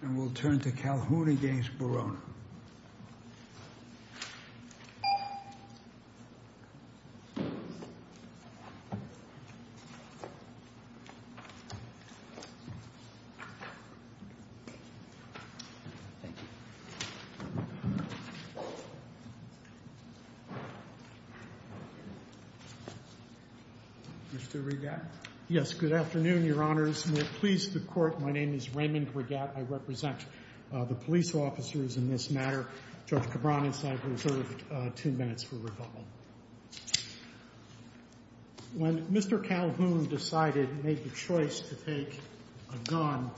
And we'll turn to Calhoun v. Borona. Mr. Regatte. Yes. Good afternoon, your honors. We're pleased to court. My name is Raymond Regatte. I represent the police officers in this matter. Judge Cabran has reserved two minutes for rebuttal. When Mr. Calhoun decided, made the choice to take a gun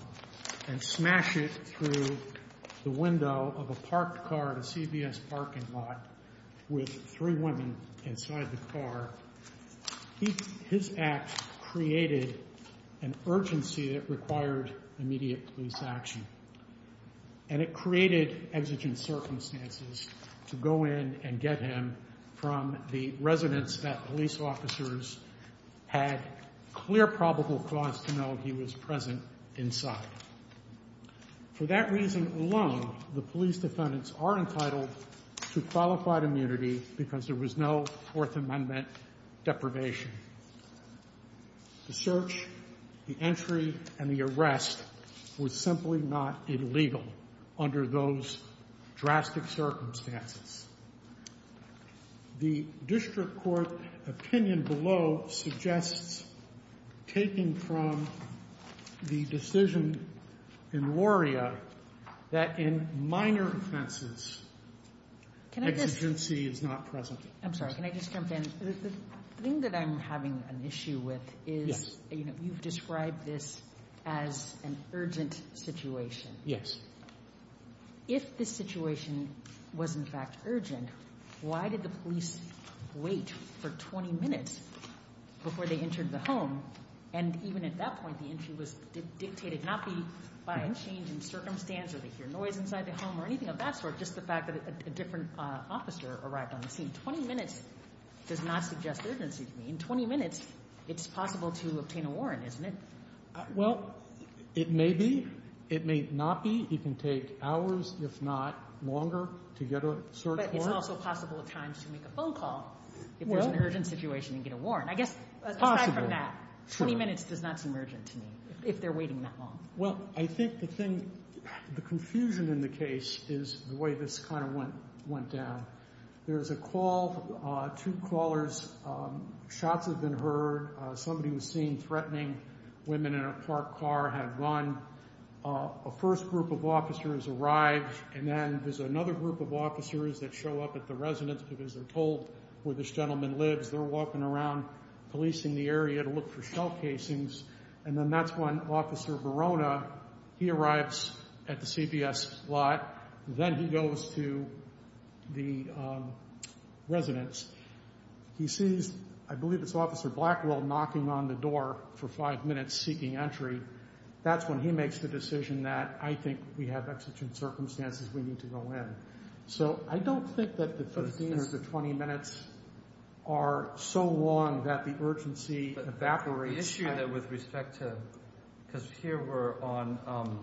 and smash it through the window of a parked car at a CVS parking lot with three women inside the car, his act created an exigence action, and it created exigent circumstances to go in and get him from the residence that police officers had clear probable cause to know he was present inside. For that reason alone, the police defendants are entitled to qualified immunity because there was no Fourth Amendment deprivation. The search, the entry and the arrest was simply not illegal under those drastic circumstances. The district court opinion below suggests taking from the decision in Lauria that in minor offenses, exigency is not present. I'm sorry. Can I just jump in? The thing that I'm having an issue with is you've described this as an urgent situation. Yes. If this situation was, in fact, urgent, why did the police wait for 20 minutes before they entered the home? And even at that point, the entry was dictated not be by a change in circumstance or to hear noise inside the home or anything of that sort. Just the fact that a different officer arrived on the scene, 20 minutes does not suggest urgency to me. In 20 minutes, it's possible to obtain a warrant, isn't it? Well, it may be. It may not be. It can take hours, if not longer, to get a search warrant. But it's also possible at times to make a phone call if there's an urgent situation and get a warrant. I guess, aside from that, 20 minutes does not seem urgent to me if they're waiting that long. Well, I think the thing, the confusion in the case is the way this kind of went down. There's a call, two callers, shots have been heard. Somebody was seen threatening women in a parked car, had run. A first group of officers arrived, and then there's another group of officers that show up at the residence because they're told where this gentleman lives. They're walking around policing the area to look for shell casings. And then that's when Officer Verona, he arrives at the CPS lot, then he goes to the residence. He sees, I believe it's Officer Blackwell, knocking on the door for five minutes seeking entry. That's when he makes the decision that, I think we have exigent circumstances. We need to go in. So I don't think that the 15 or the 20 minutes are so long that the urgency evaporates. The issue that with respect to, because here we're on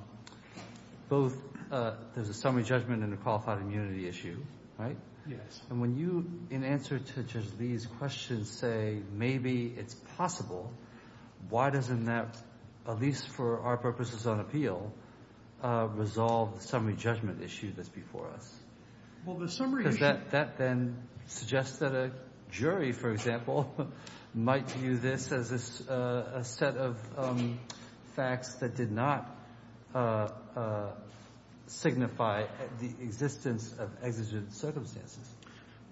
both, there's a summary judgment and a qualified immunity issue, right? Yes. And when you, in answer to Judge Lee's question, say maybe it's possible, why doesn't that, at least for our purposes on appeal, resolve the summary judgment issue that's before us? Well, the summary is that then suggests that a jury, for example, might view this as a set of facts that did not signify the existence of exigent circumstances.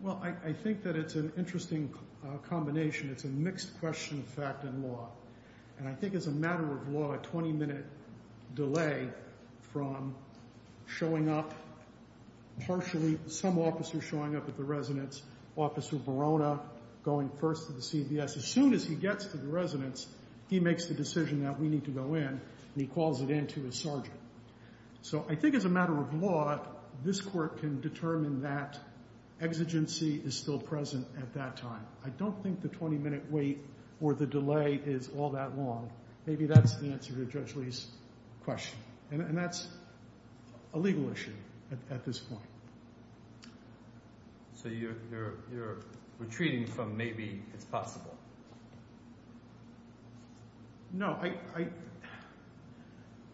Well, I think that it's an interesting combination. It's a mixed question of fact and law. And I think as a matter of law, a 20 minute delay from showing up partially, some officer showing up at the residence, Officer Barona going first to the CVS. As soon as he gets to the residence, he makes the decision that we need to go in and he calls it in to his sergeant. So I think as a matter of law, this court can determine that exigency is still present at that time. I don't think the 20 minute wait or the delay is all that long. Maybe that's the answer to Judge Lee's question. And that's a legal issue at this point. So you're retreating from maybe it's possible. No,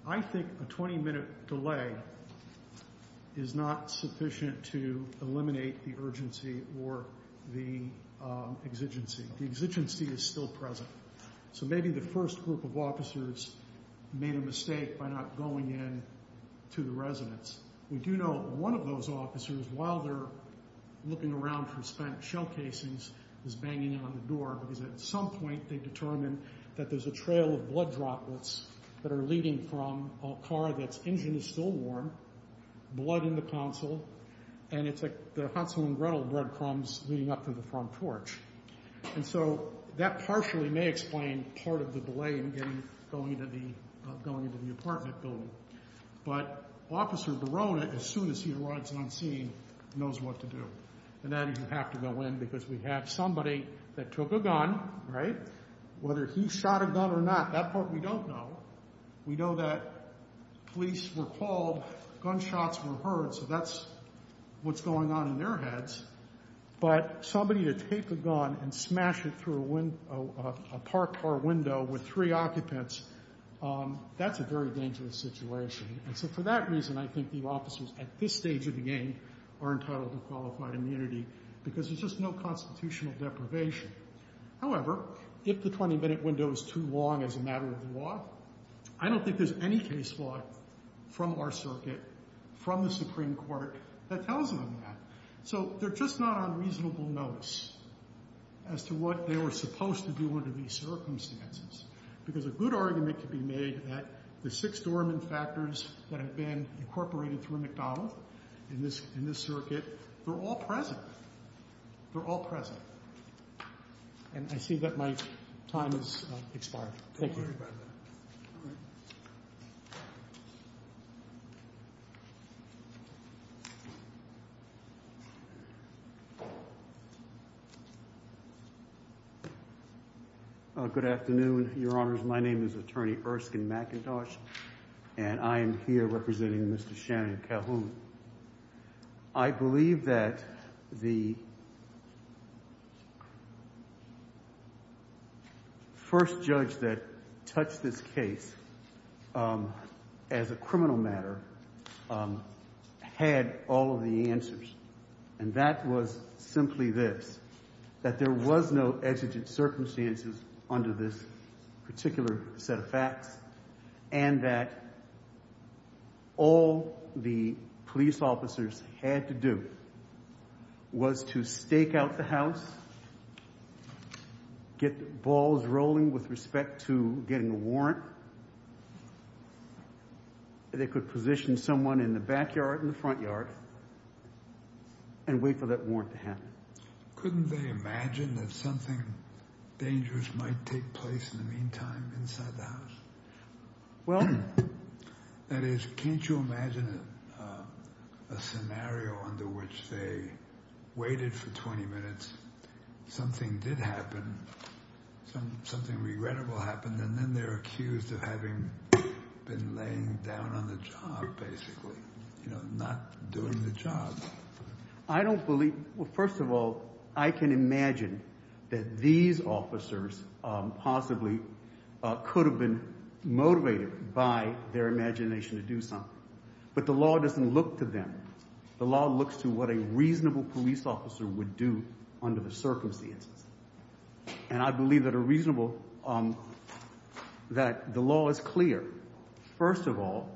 I think a 20 minute delay is not sufficient to eliminate the urgency or the exigency. The exigency is still present. So maybe the first group of officers made a mistake by not going in to the residence. We do know one of those officers, while they're looking around for spent shell casings, is banging on the door because at some point they determined that there's a trail of blood droplets that are leading from a car that's engine is still warm, blood in the console. And it's like the Hansel and Gretel breadcrumbs leading up to the front torch. And so that partially may explain part of the delay in getting, going into the, going into the apartment building. But officer Barone, as soon as he arrives on scene, knows what to do. And then you have to go in because we have somebody that took a gun, right? Whether he shot a gun or not, that part we don't know. We know that police were called, gunshots were heard. So that's what's going on in their heads, but somebody to take a gun and smash it through a window, a parked car window with three occupants, that's a very dangerous situation. And so for that reason, I think the officers at this stage of the game are entitled to qualified immunity because there's just no constitutional deprivation. However, if the 20 minute window is too long as a matter of the law, I don't think there's any case law from our circuit, from the Supreme Court that tells them that. So they're just not on reasonable notice as to what they were supposed to do under these circumstances. Because a good argument could be made that the six dormant factors that have been incorporated through McDonald in this, in this circuit, they're all present. They're all present. And I see that my time has expired. Thank you. Uh, good afternoon, your honors. My name is attorney Erskine McIntosh and I am here representing Mr. Shannon Calhoun. And I believe that the first judge that touched this case, um, as a criminal matter, um, had all of the answers and that was simply this, that there was no exigent circumstances under this particular set of facts and that all the police officers had to do was to stake out the house, get the balls rolling with respect to getting a warrant, that they could position someone in the backyard and the front yard and wait for that warrant to happen. Couldn't they imagine that something dangerous might take place in the meantime inside the house? Well, that is, can't you imagine a scenario under which they waited for 20 minutes, something did happen, something regrettable happened, and then they're accused of having been laying down on the job, basically, you know, not doing the I can imagine that these officers, um, possibly, uh, could have been motivated by their imagination to do something, but the law doesn't look to them. The law looks to what a reasonable police officer would do under the circumstances. And I believe that a reasonable, um, that the law is clear. First of all,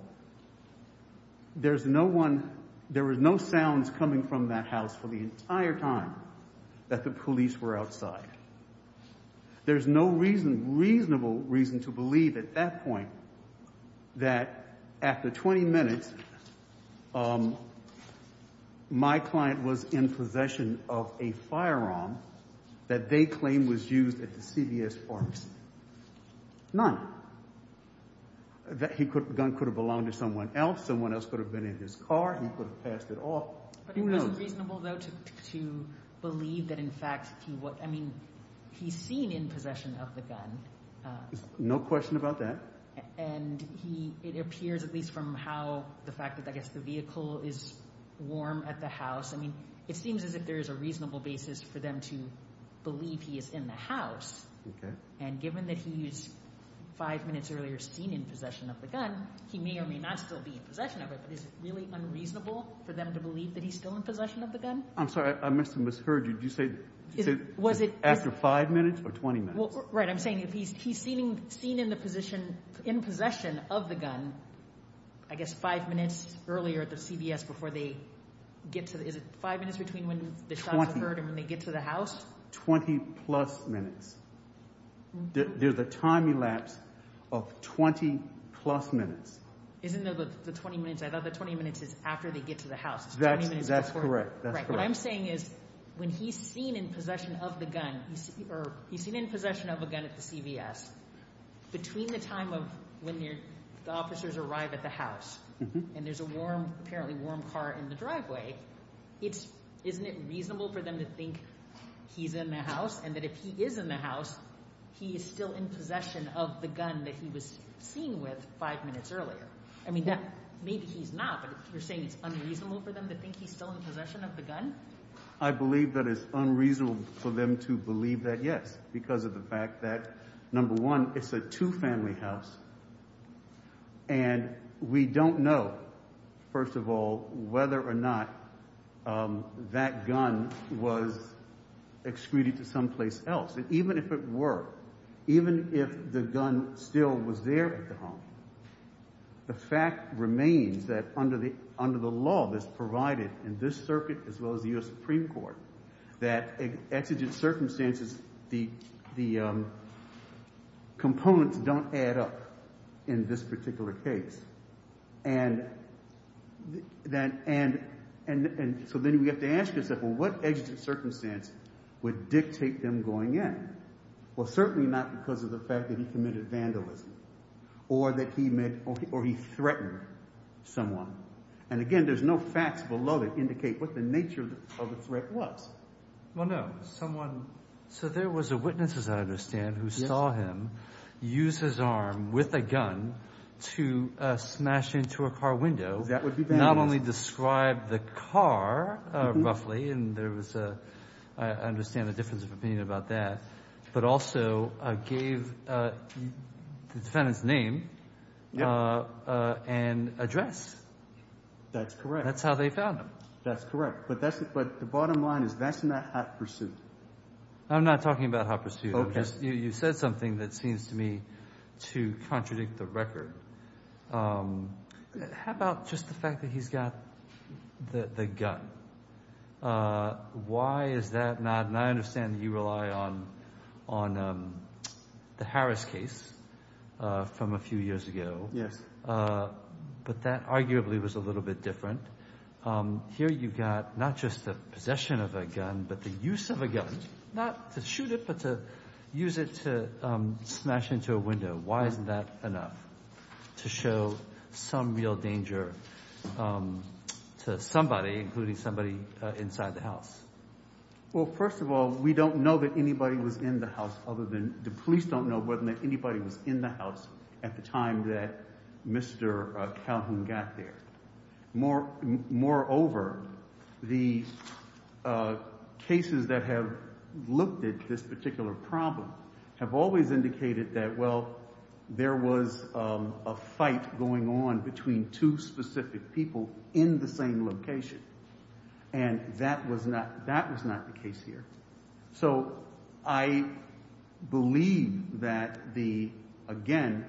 there's no one, there was no sounds coming from that house for the entire time that the police were outside. There's no reason, reasonable reason to believe at that point that after 20 minutes, um, my client was in possession of a firearm that they claimed was used at the CVS pharmacy, none, that he could, the gun could have belonged to someone else, someone else could have been in his car, he could have passed it off. But it wasn't reasonable though, to, to believe that in fact he was, I mean, he's seen in possession of the gun. No question about that. And he, it appears at least from how the fact that I guess the vehicle is warm at the house. I mean, it seems as if there is a reasonable basis for them to believe he is in the house. And given that he's five minutes earlier seen in possession of the gun, he may or may not still be in possession of it, but is it really unreasonable for them to believe that he's still in possession of the gun? I'm sorry, I must have misheard you. Did you say, was it after five minutes or 20 minutes? Well, right. I'm saying if he's, he's seen in the position, in possession of the gun, I guess five minutes earlier at the CVS before they get to the, is it five minutes between when the shots occurred and when they get to the house? 20 plus minutes. There's a time elapsed of 20 plus minutes. Isn't that the 20 minutes? I thought the 20 minutes is after they get to the house. That's correct. That's correct. What I'm saying is when he's seen in possession of the gun, or he's seen in possession of a gun at the CVS, between the time of when the officers arrive at the house and there's a warm, apparently warm car in the driveway, it's, isn't it reasonable for them to think he's in the house and that if he is in the house, he is still in possession of the gun that he was seen with five minutes earlier? I mean, maybe he's not, but you're saying it's unreasonable for them to think he's still in possession of the gun? I believe that it's unreasonable for them to believe that. Yes. Because of the fact that number one, it's a two family house and we don't know, first of all, whether or not that gun was excreted to someplace else. Even if it were, even if the gun still was there at the home, the fact remains that under the law that's provided in this circuit, as well as the US Supreme Court, that exigent circumstances, the components don't add up in this particular case. And so then we have to ask ourselves, well, what exigent circumstance would that have been? Well, certainly not because of the fact that he committed vandalism or that he met or he threatened someone. And again, there's no facts below that indicate what the nature of the threat was. Well, no, someone, so there was a witness, as I understand, who saw him use his arm with a gun to smash into a car window. That would be vandalism. Not only describe the car roughly, and there was a, I understand the difference of opinion about that, but also gave the defendant's name and address. That's correct. That's how they found him. That's correct. But that's, but the bottom line is that's not hot pursuit. I'm not talking about hot pursuit. I'm just, you said something that seems to me to contradict the record. How about just the fact that he's got the gun? Why is that not, and I understand that you rely on the Harris case from a few years ago, but that arguably was a little bit different. Here you've got not just the possession of a gun, but the use of a gun, not to shoot it, but to use it to smash into a window. Why isn't that enough to show some real danger to somebody, including somebody inside the house? Well, first of all, we don't know that anybody was in the house other than the police don't know whether or not anybody was in the house at the time that Mr. Calhoun got there. Moreover, the cases that have looked at this particular problem have always indicated that, well, there was a fight going on between two specific people in the same location and that was not, that was not the case here. So I believe that the, again,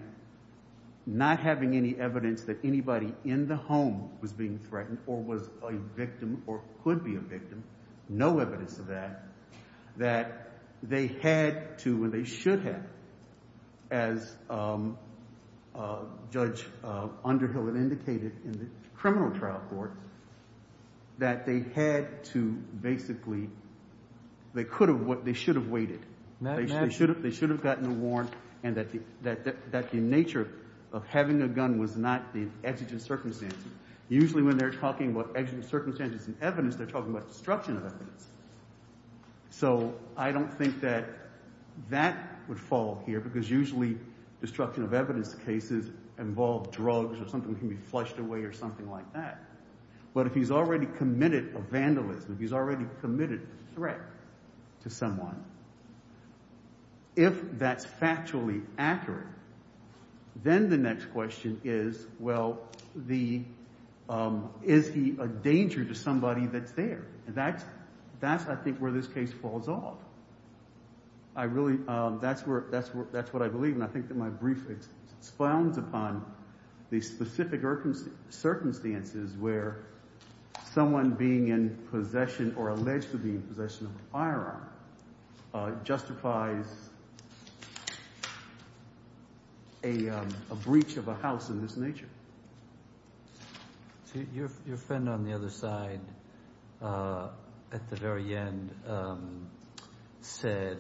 not having any evidence that anybody in the home was being threatened or was a victim or could be a victim, no evidence of that, that they had to, and they should have, as Judge Underhill had indicated in the criminal trial court, that they had to basically, they could have, they should have waited. They should have gotten a warrant and that the nature of having a gun was not the exigent circumstances. Usually when they're talking about exigent circumstances and evidence, they're talking about destruction of evidence. So I don't think that that would fall here because usually destruction of evidence cases involve drugs or something can be flushed away or something like that, but if he's already committed a vandalism, if he's already committed a threat to someone, if that's factually accurate, then the next question is, well, the, is he a danger to somebody that's there? And that's, that's, I think where this case falls off. I really, that's where, that's what I believe. And I think that my brief expounds upon the specific circumstances where someone being in possession or alleged to be in possession of a firearm justifies a breach of a house of this nature. So your, your friend on the other side, at the very end, said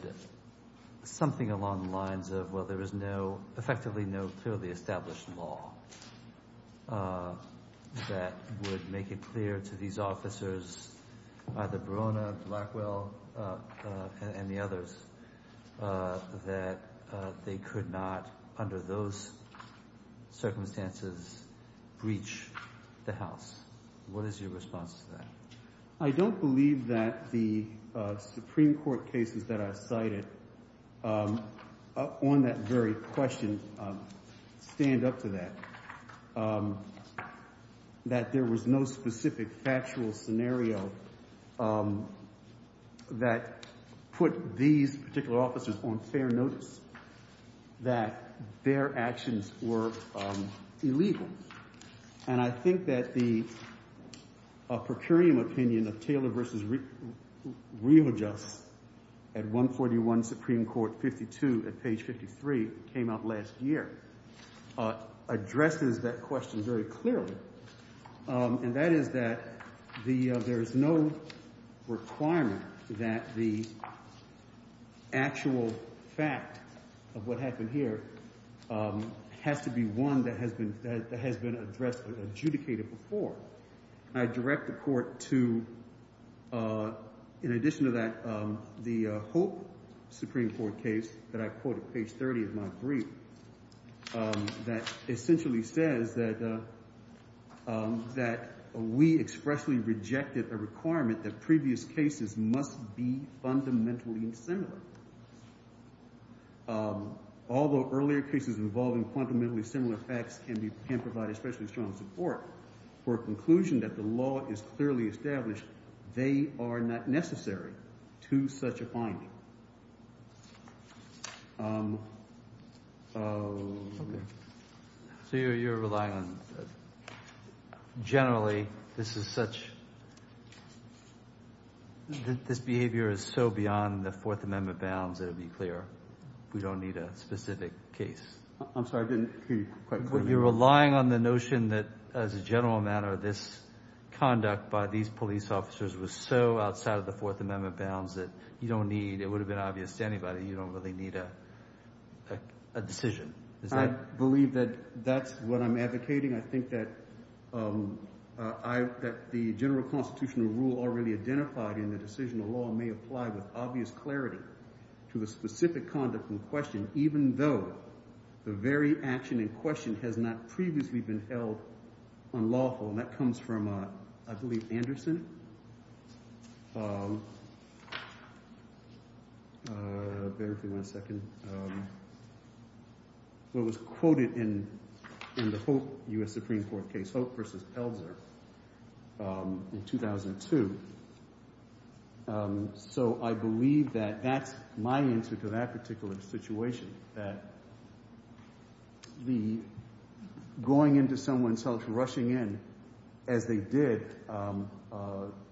something along the lines of, well, there was no, effectively no clearly established law that would make it clear to these officers, either Barona, Blackwell, and the others, that they could not, under those circumstances, breach the house. What is your response to that? I don't believe that the Supreme Court cases that are cited on that very question stand up to that, that there was no specific factual scenario that put these particular officers on fair notice, that their actions were illegal. And I think that the procurium opinion of Taylor versus Riojust at 141 Supreme Court, 52 at page 53, came out last year, addresses that question very clearly. And that is that the, there is no requirement that the actual fact of what happened here has to be one that has been, that has been addressed or adjudicated before. I direct the court to, in addition to that, the Hope Supreme Court case that I referred to earlier, that we expressly rejected a requirement that previous cases must be fundamentally insimilar. Although earlier cases involving fundamentally similar facts can be, can provide especially strong support for a conclusion that the law is clearly established, they are not necessary to such a finding. So you're, you're relying on, generally, this is such, this behavior is so beyond the Fourth Amendment bounds that it'd be clear we don't need a specific case. I'm sorry, I didn't hear you quite clearly. You're relying on the notion that as a general matter, this conduct by these police officers was so outside of the Fourth Amendment bounds that you don't need, it would have been obvious to anybody, you don't really need a decision. I believe that that's what I'm advocating. I think that I, that the general constitutional rule already identified in the decision of law may apply with obvious clarity to the specific conduct in question, even though the very action in question has not previously been held unlawful, and that comes from, I believe, Anderson. Bear with me one second. What was quoted in, in the Hope, U.S. Supreme Court case, Hope versus Pelzer, in 2002. So I believe that that's my answer to that particular situation, that the going into someone's house, rushing in, as they did,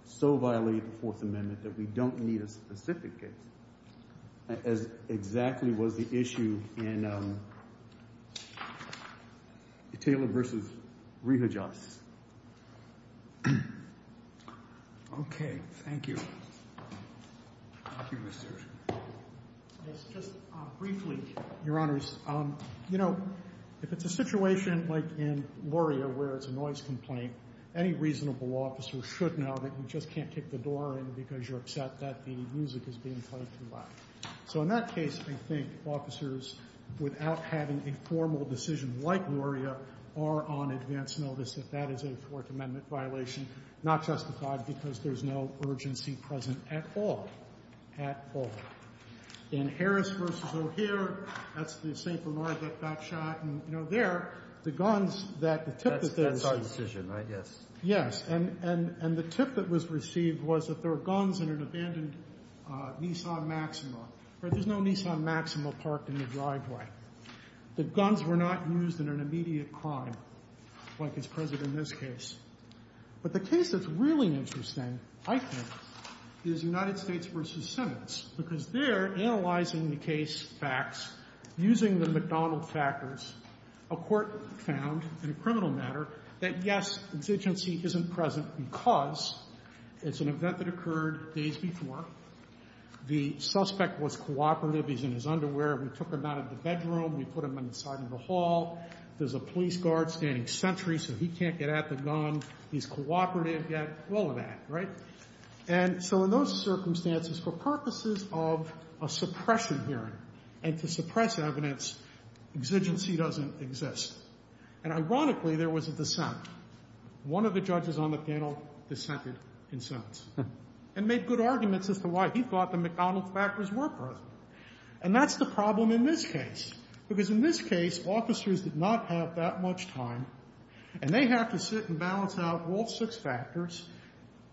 so violated the Fourth Amendment that we don't need a specific case, as exactly was the issue in Taylor versus Reha Joss. Okay. Thank you. Thank you, Mr. Yes, just briefly, your honors. You know, if it's a situation like in Laurier, where it's a noise complaint, any reasonable officer should know that you just can't kick the door in because you're upset that the music is being played too loud. So in that case, I think officers, without having a formal decision like Laurier, are on advance notice, if that is a Fourth Amendment violation, not justified because there's no urgency present at all, at all. In Harris versus O'Hare, that's the St. Bernard that got shot. And, you know, there, the guns that, the tip that they received. That's our decision, right? Yes. Yes. And, and, and the tip that was received was that there were guns in an abandoned Nissan Maxima, right? There's no Nissan Maxima parked in the driveway. The guns were not used in an immediate crime, like is present in this case. But the case that's really interesting, I think, is United States versus Simmons, because they're analyzing the case facts, using the McDonald factors, a court found in a criminal matter that, yes, exigency isn't present because it's an event that occurred days before, the suspect was cooperative, he's in his underwear, we took him out of the bedroom, we put him inside of the hall, there's a police guard standing sentry so he can't get at the gun, he's cooperative, yeah, all of that, right? And so in those circumstances, for purposes of a suppression hearing and to suppress evidence, exigency doesn't exist. And ironically, there was a dissent. One of the judges on the panel dissented in sentence and made good arguments as to why he thought the McDonald factors were present. And that's the problem in this case, because in this case, officers did not have that much time and they have to sit and balance out all six factors.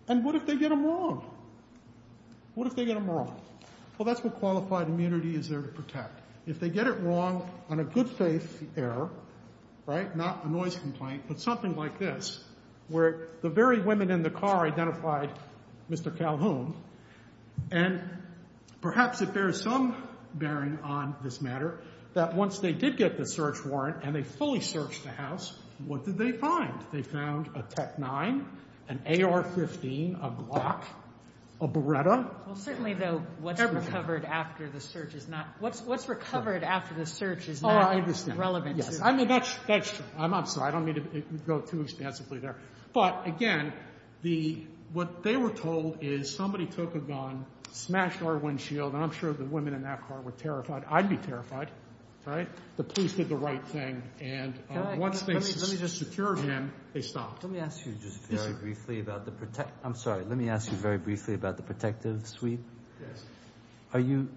And what if they get them wrong? What if they get them wrong? Well, that's what qualified immunity is there to protect. If they get it wrong on a good faith error, right, not a noise complaint, but something like this, where the very women in the car identified Mr. Calhoun, and perhaps it bears some bearing on this matter, that once they did get the search warrant and they fully searched the house, what did they find? They found a TEC-9, an AR-15, a Glock, a Beretta. Well, certainly, though, what's recovered after the search is not relevant. Yes. I mean, that's true. I'm sorry. I don't mean to go too extensively there. But again, what they were told is somebody took a gun, smashed our windshield, and I'm sure the women in that car were terrified. I'd be terrified, right? The police did the right thing. And once they just secured him, they stopped. Let me ask you just very briefly about the protect—I'm sorry. Let me ask you very briefly about the protective sweep. Are you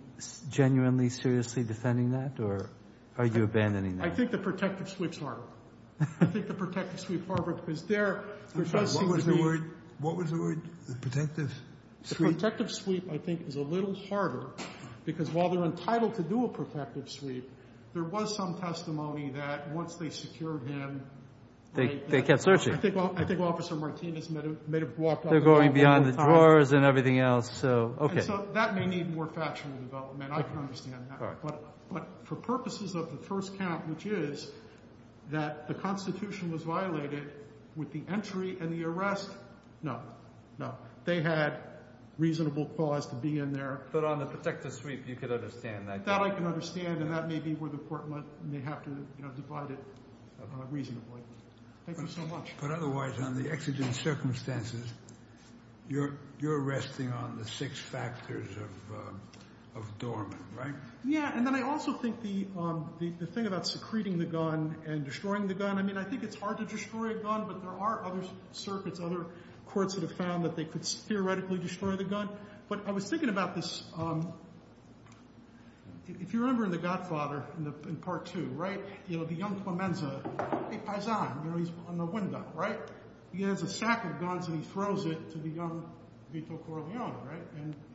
genuinely, seriously defending that, or are you abandoning that? I think the protective sweep's harder. I think the protective sweep's harder, because there does seem to be— I'm sorry, what was the word? What was the word? The protective sweep? The protective sweep, I think, is a little harder, because while they're entitled to do a protective sweep, there was some testimony that once they secured him— They kept searching. I think Officer Martinez may have walked out of the home. They're going beyond the drawers and everything else. So, okay. So that may need more factual development. I can understand that. But for purposes of the first count, which is that the Constitution was violated with the entry and the arrest, no, no. They had reasonable cause to be in there. But on the protective sweep, you could understand that. That I can understand, and that may be where the Court may have to divide it reasonably. Thank you so much. But otherwise, on the exigent circumstances, you're resting on the six factors of dormant, right? Yeah. And then I also think the thing about secreting the gun and destroying the gun— I mean, I think it's hard to destroy a gun, but there are other circuits, other courts that have found that they could theoretically destroy the gun. But I was thinking about this. If you remember in The Godfather, in Part 2, right? You know, the young Clemenza—he has a sack of guns and he throws it to the young Vito Corleone, right?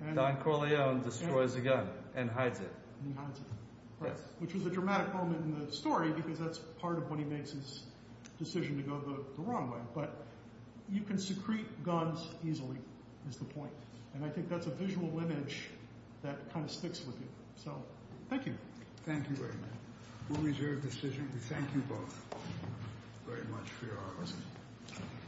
And— Don Corleone destroys the gun and hides it. And he hides it. Yes. Which was a dramatic moment in the story because that's part of when he makes his decision to go the wrong way. But you can secrete guns easily, is the point. And I think that's a visual image that kind of sticks with you. So thank you. Thank you very much. We'll reserve the decision. We thank you both very much for your honesty.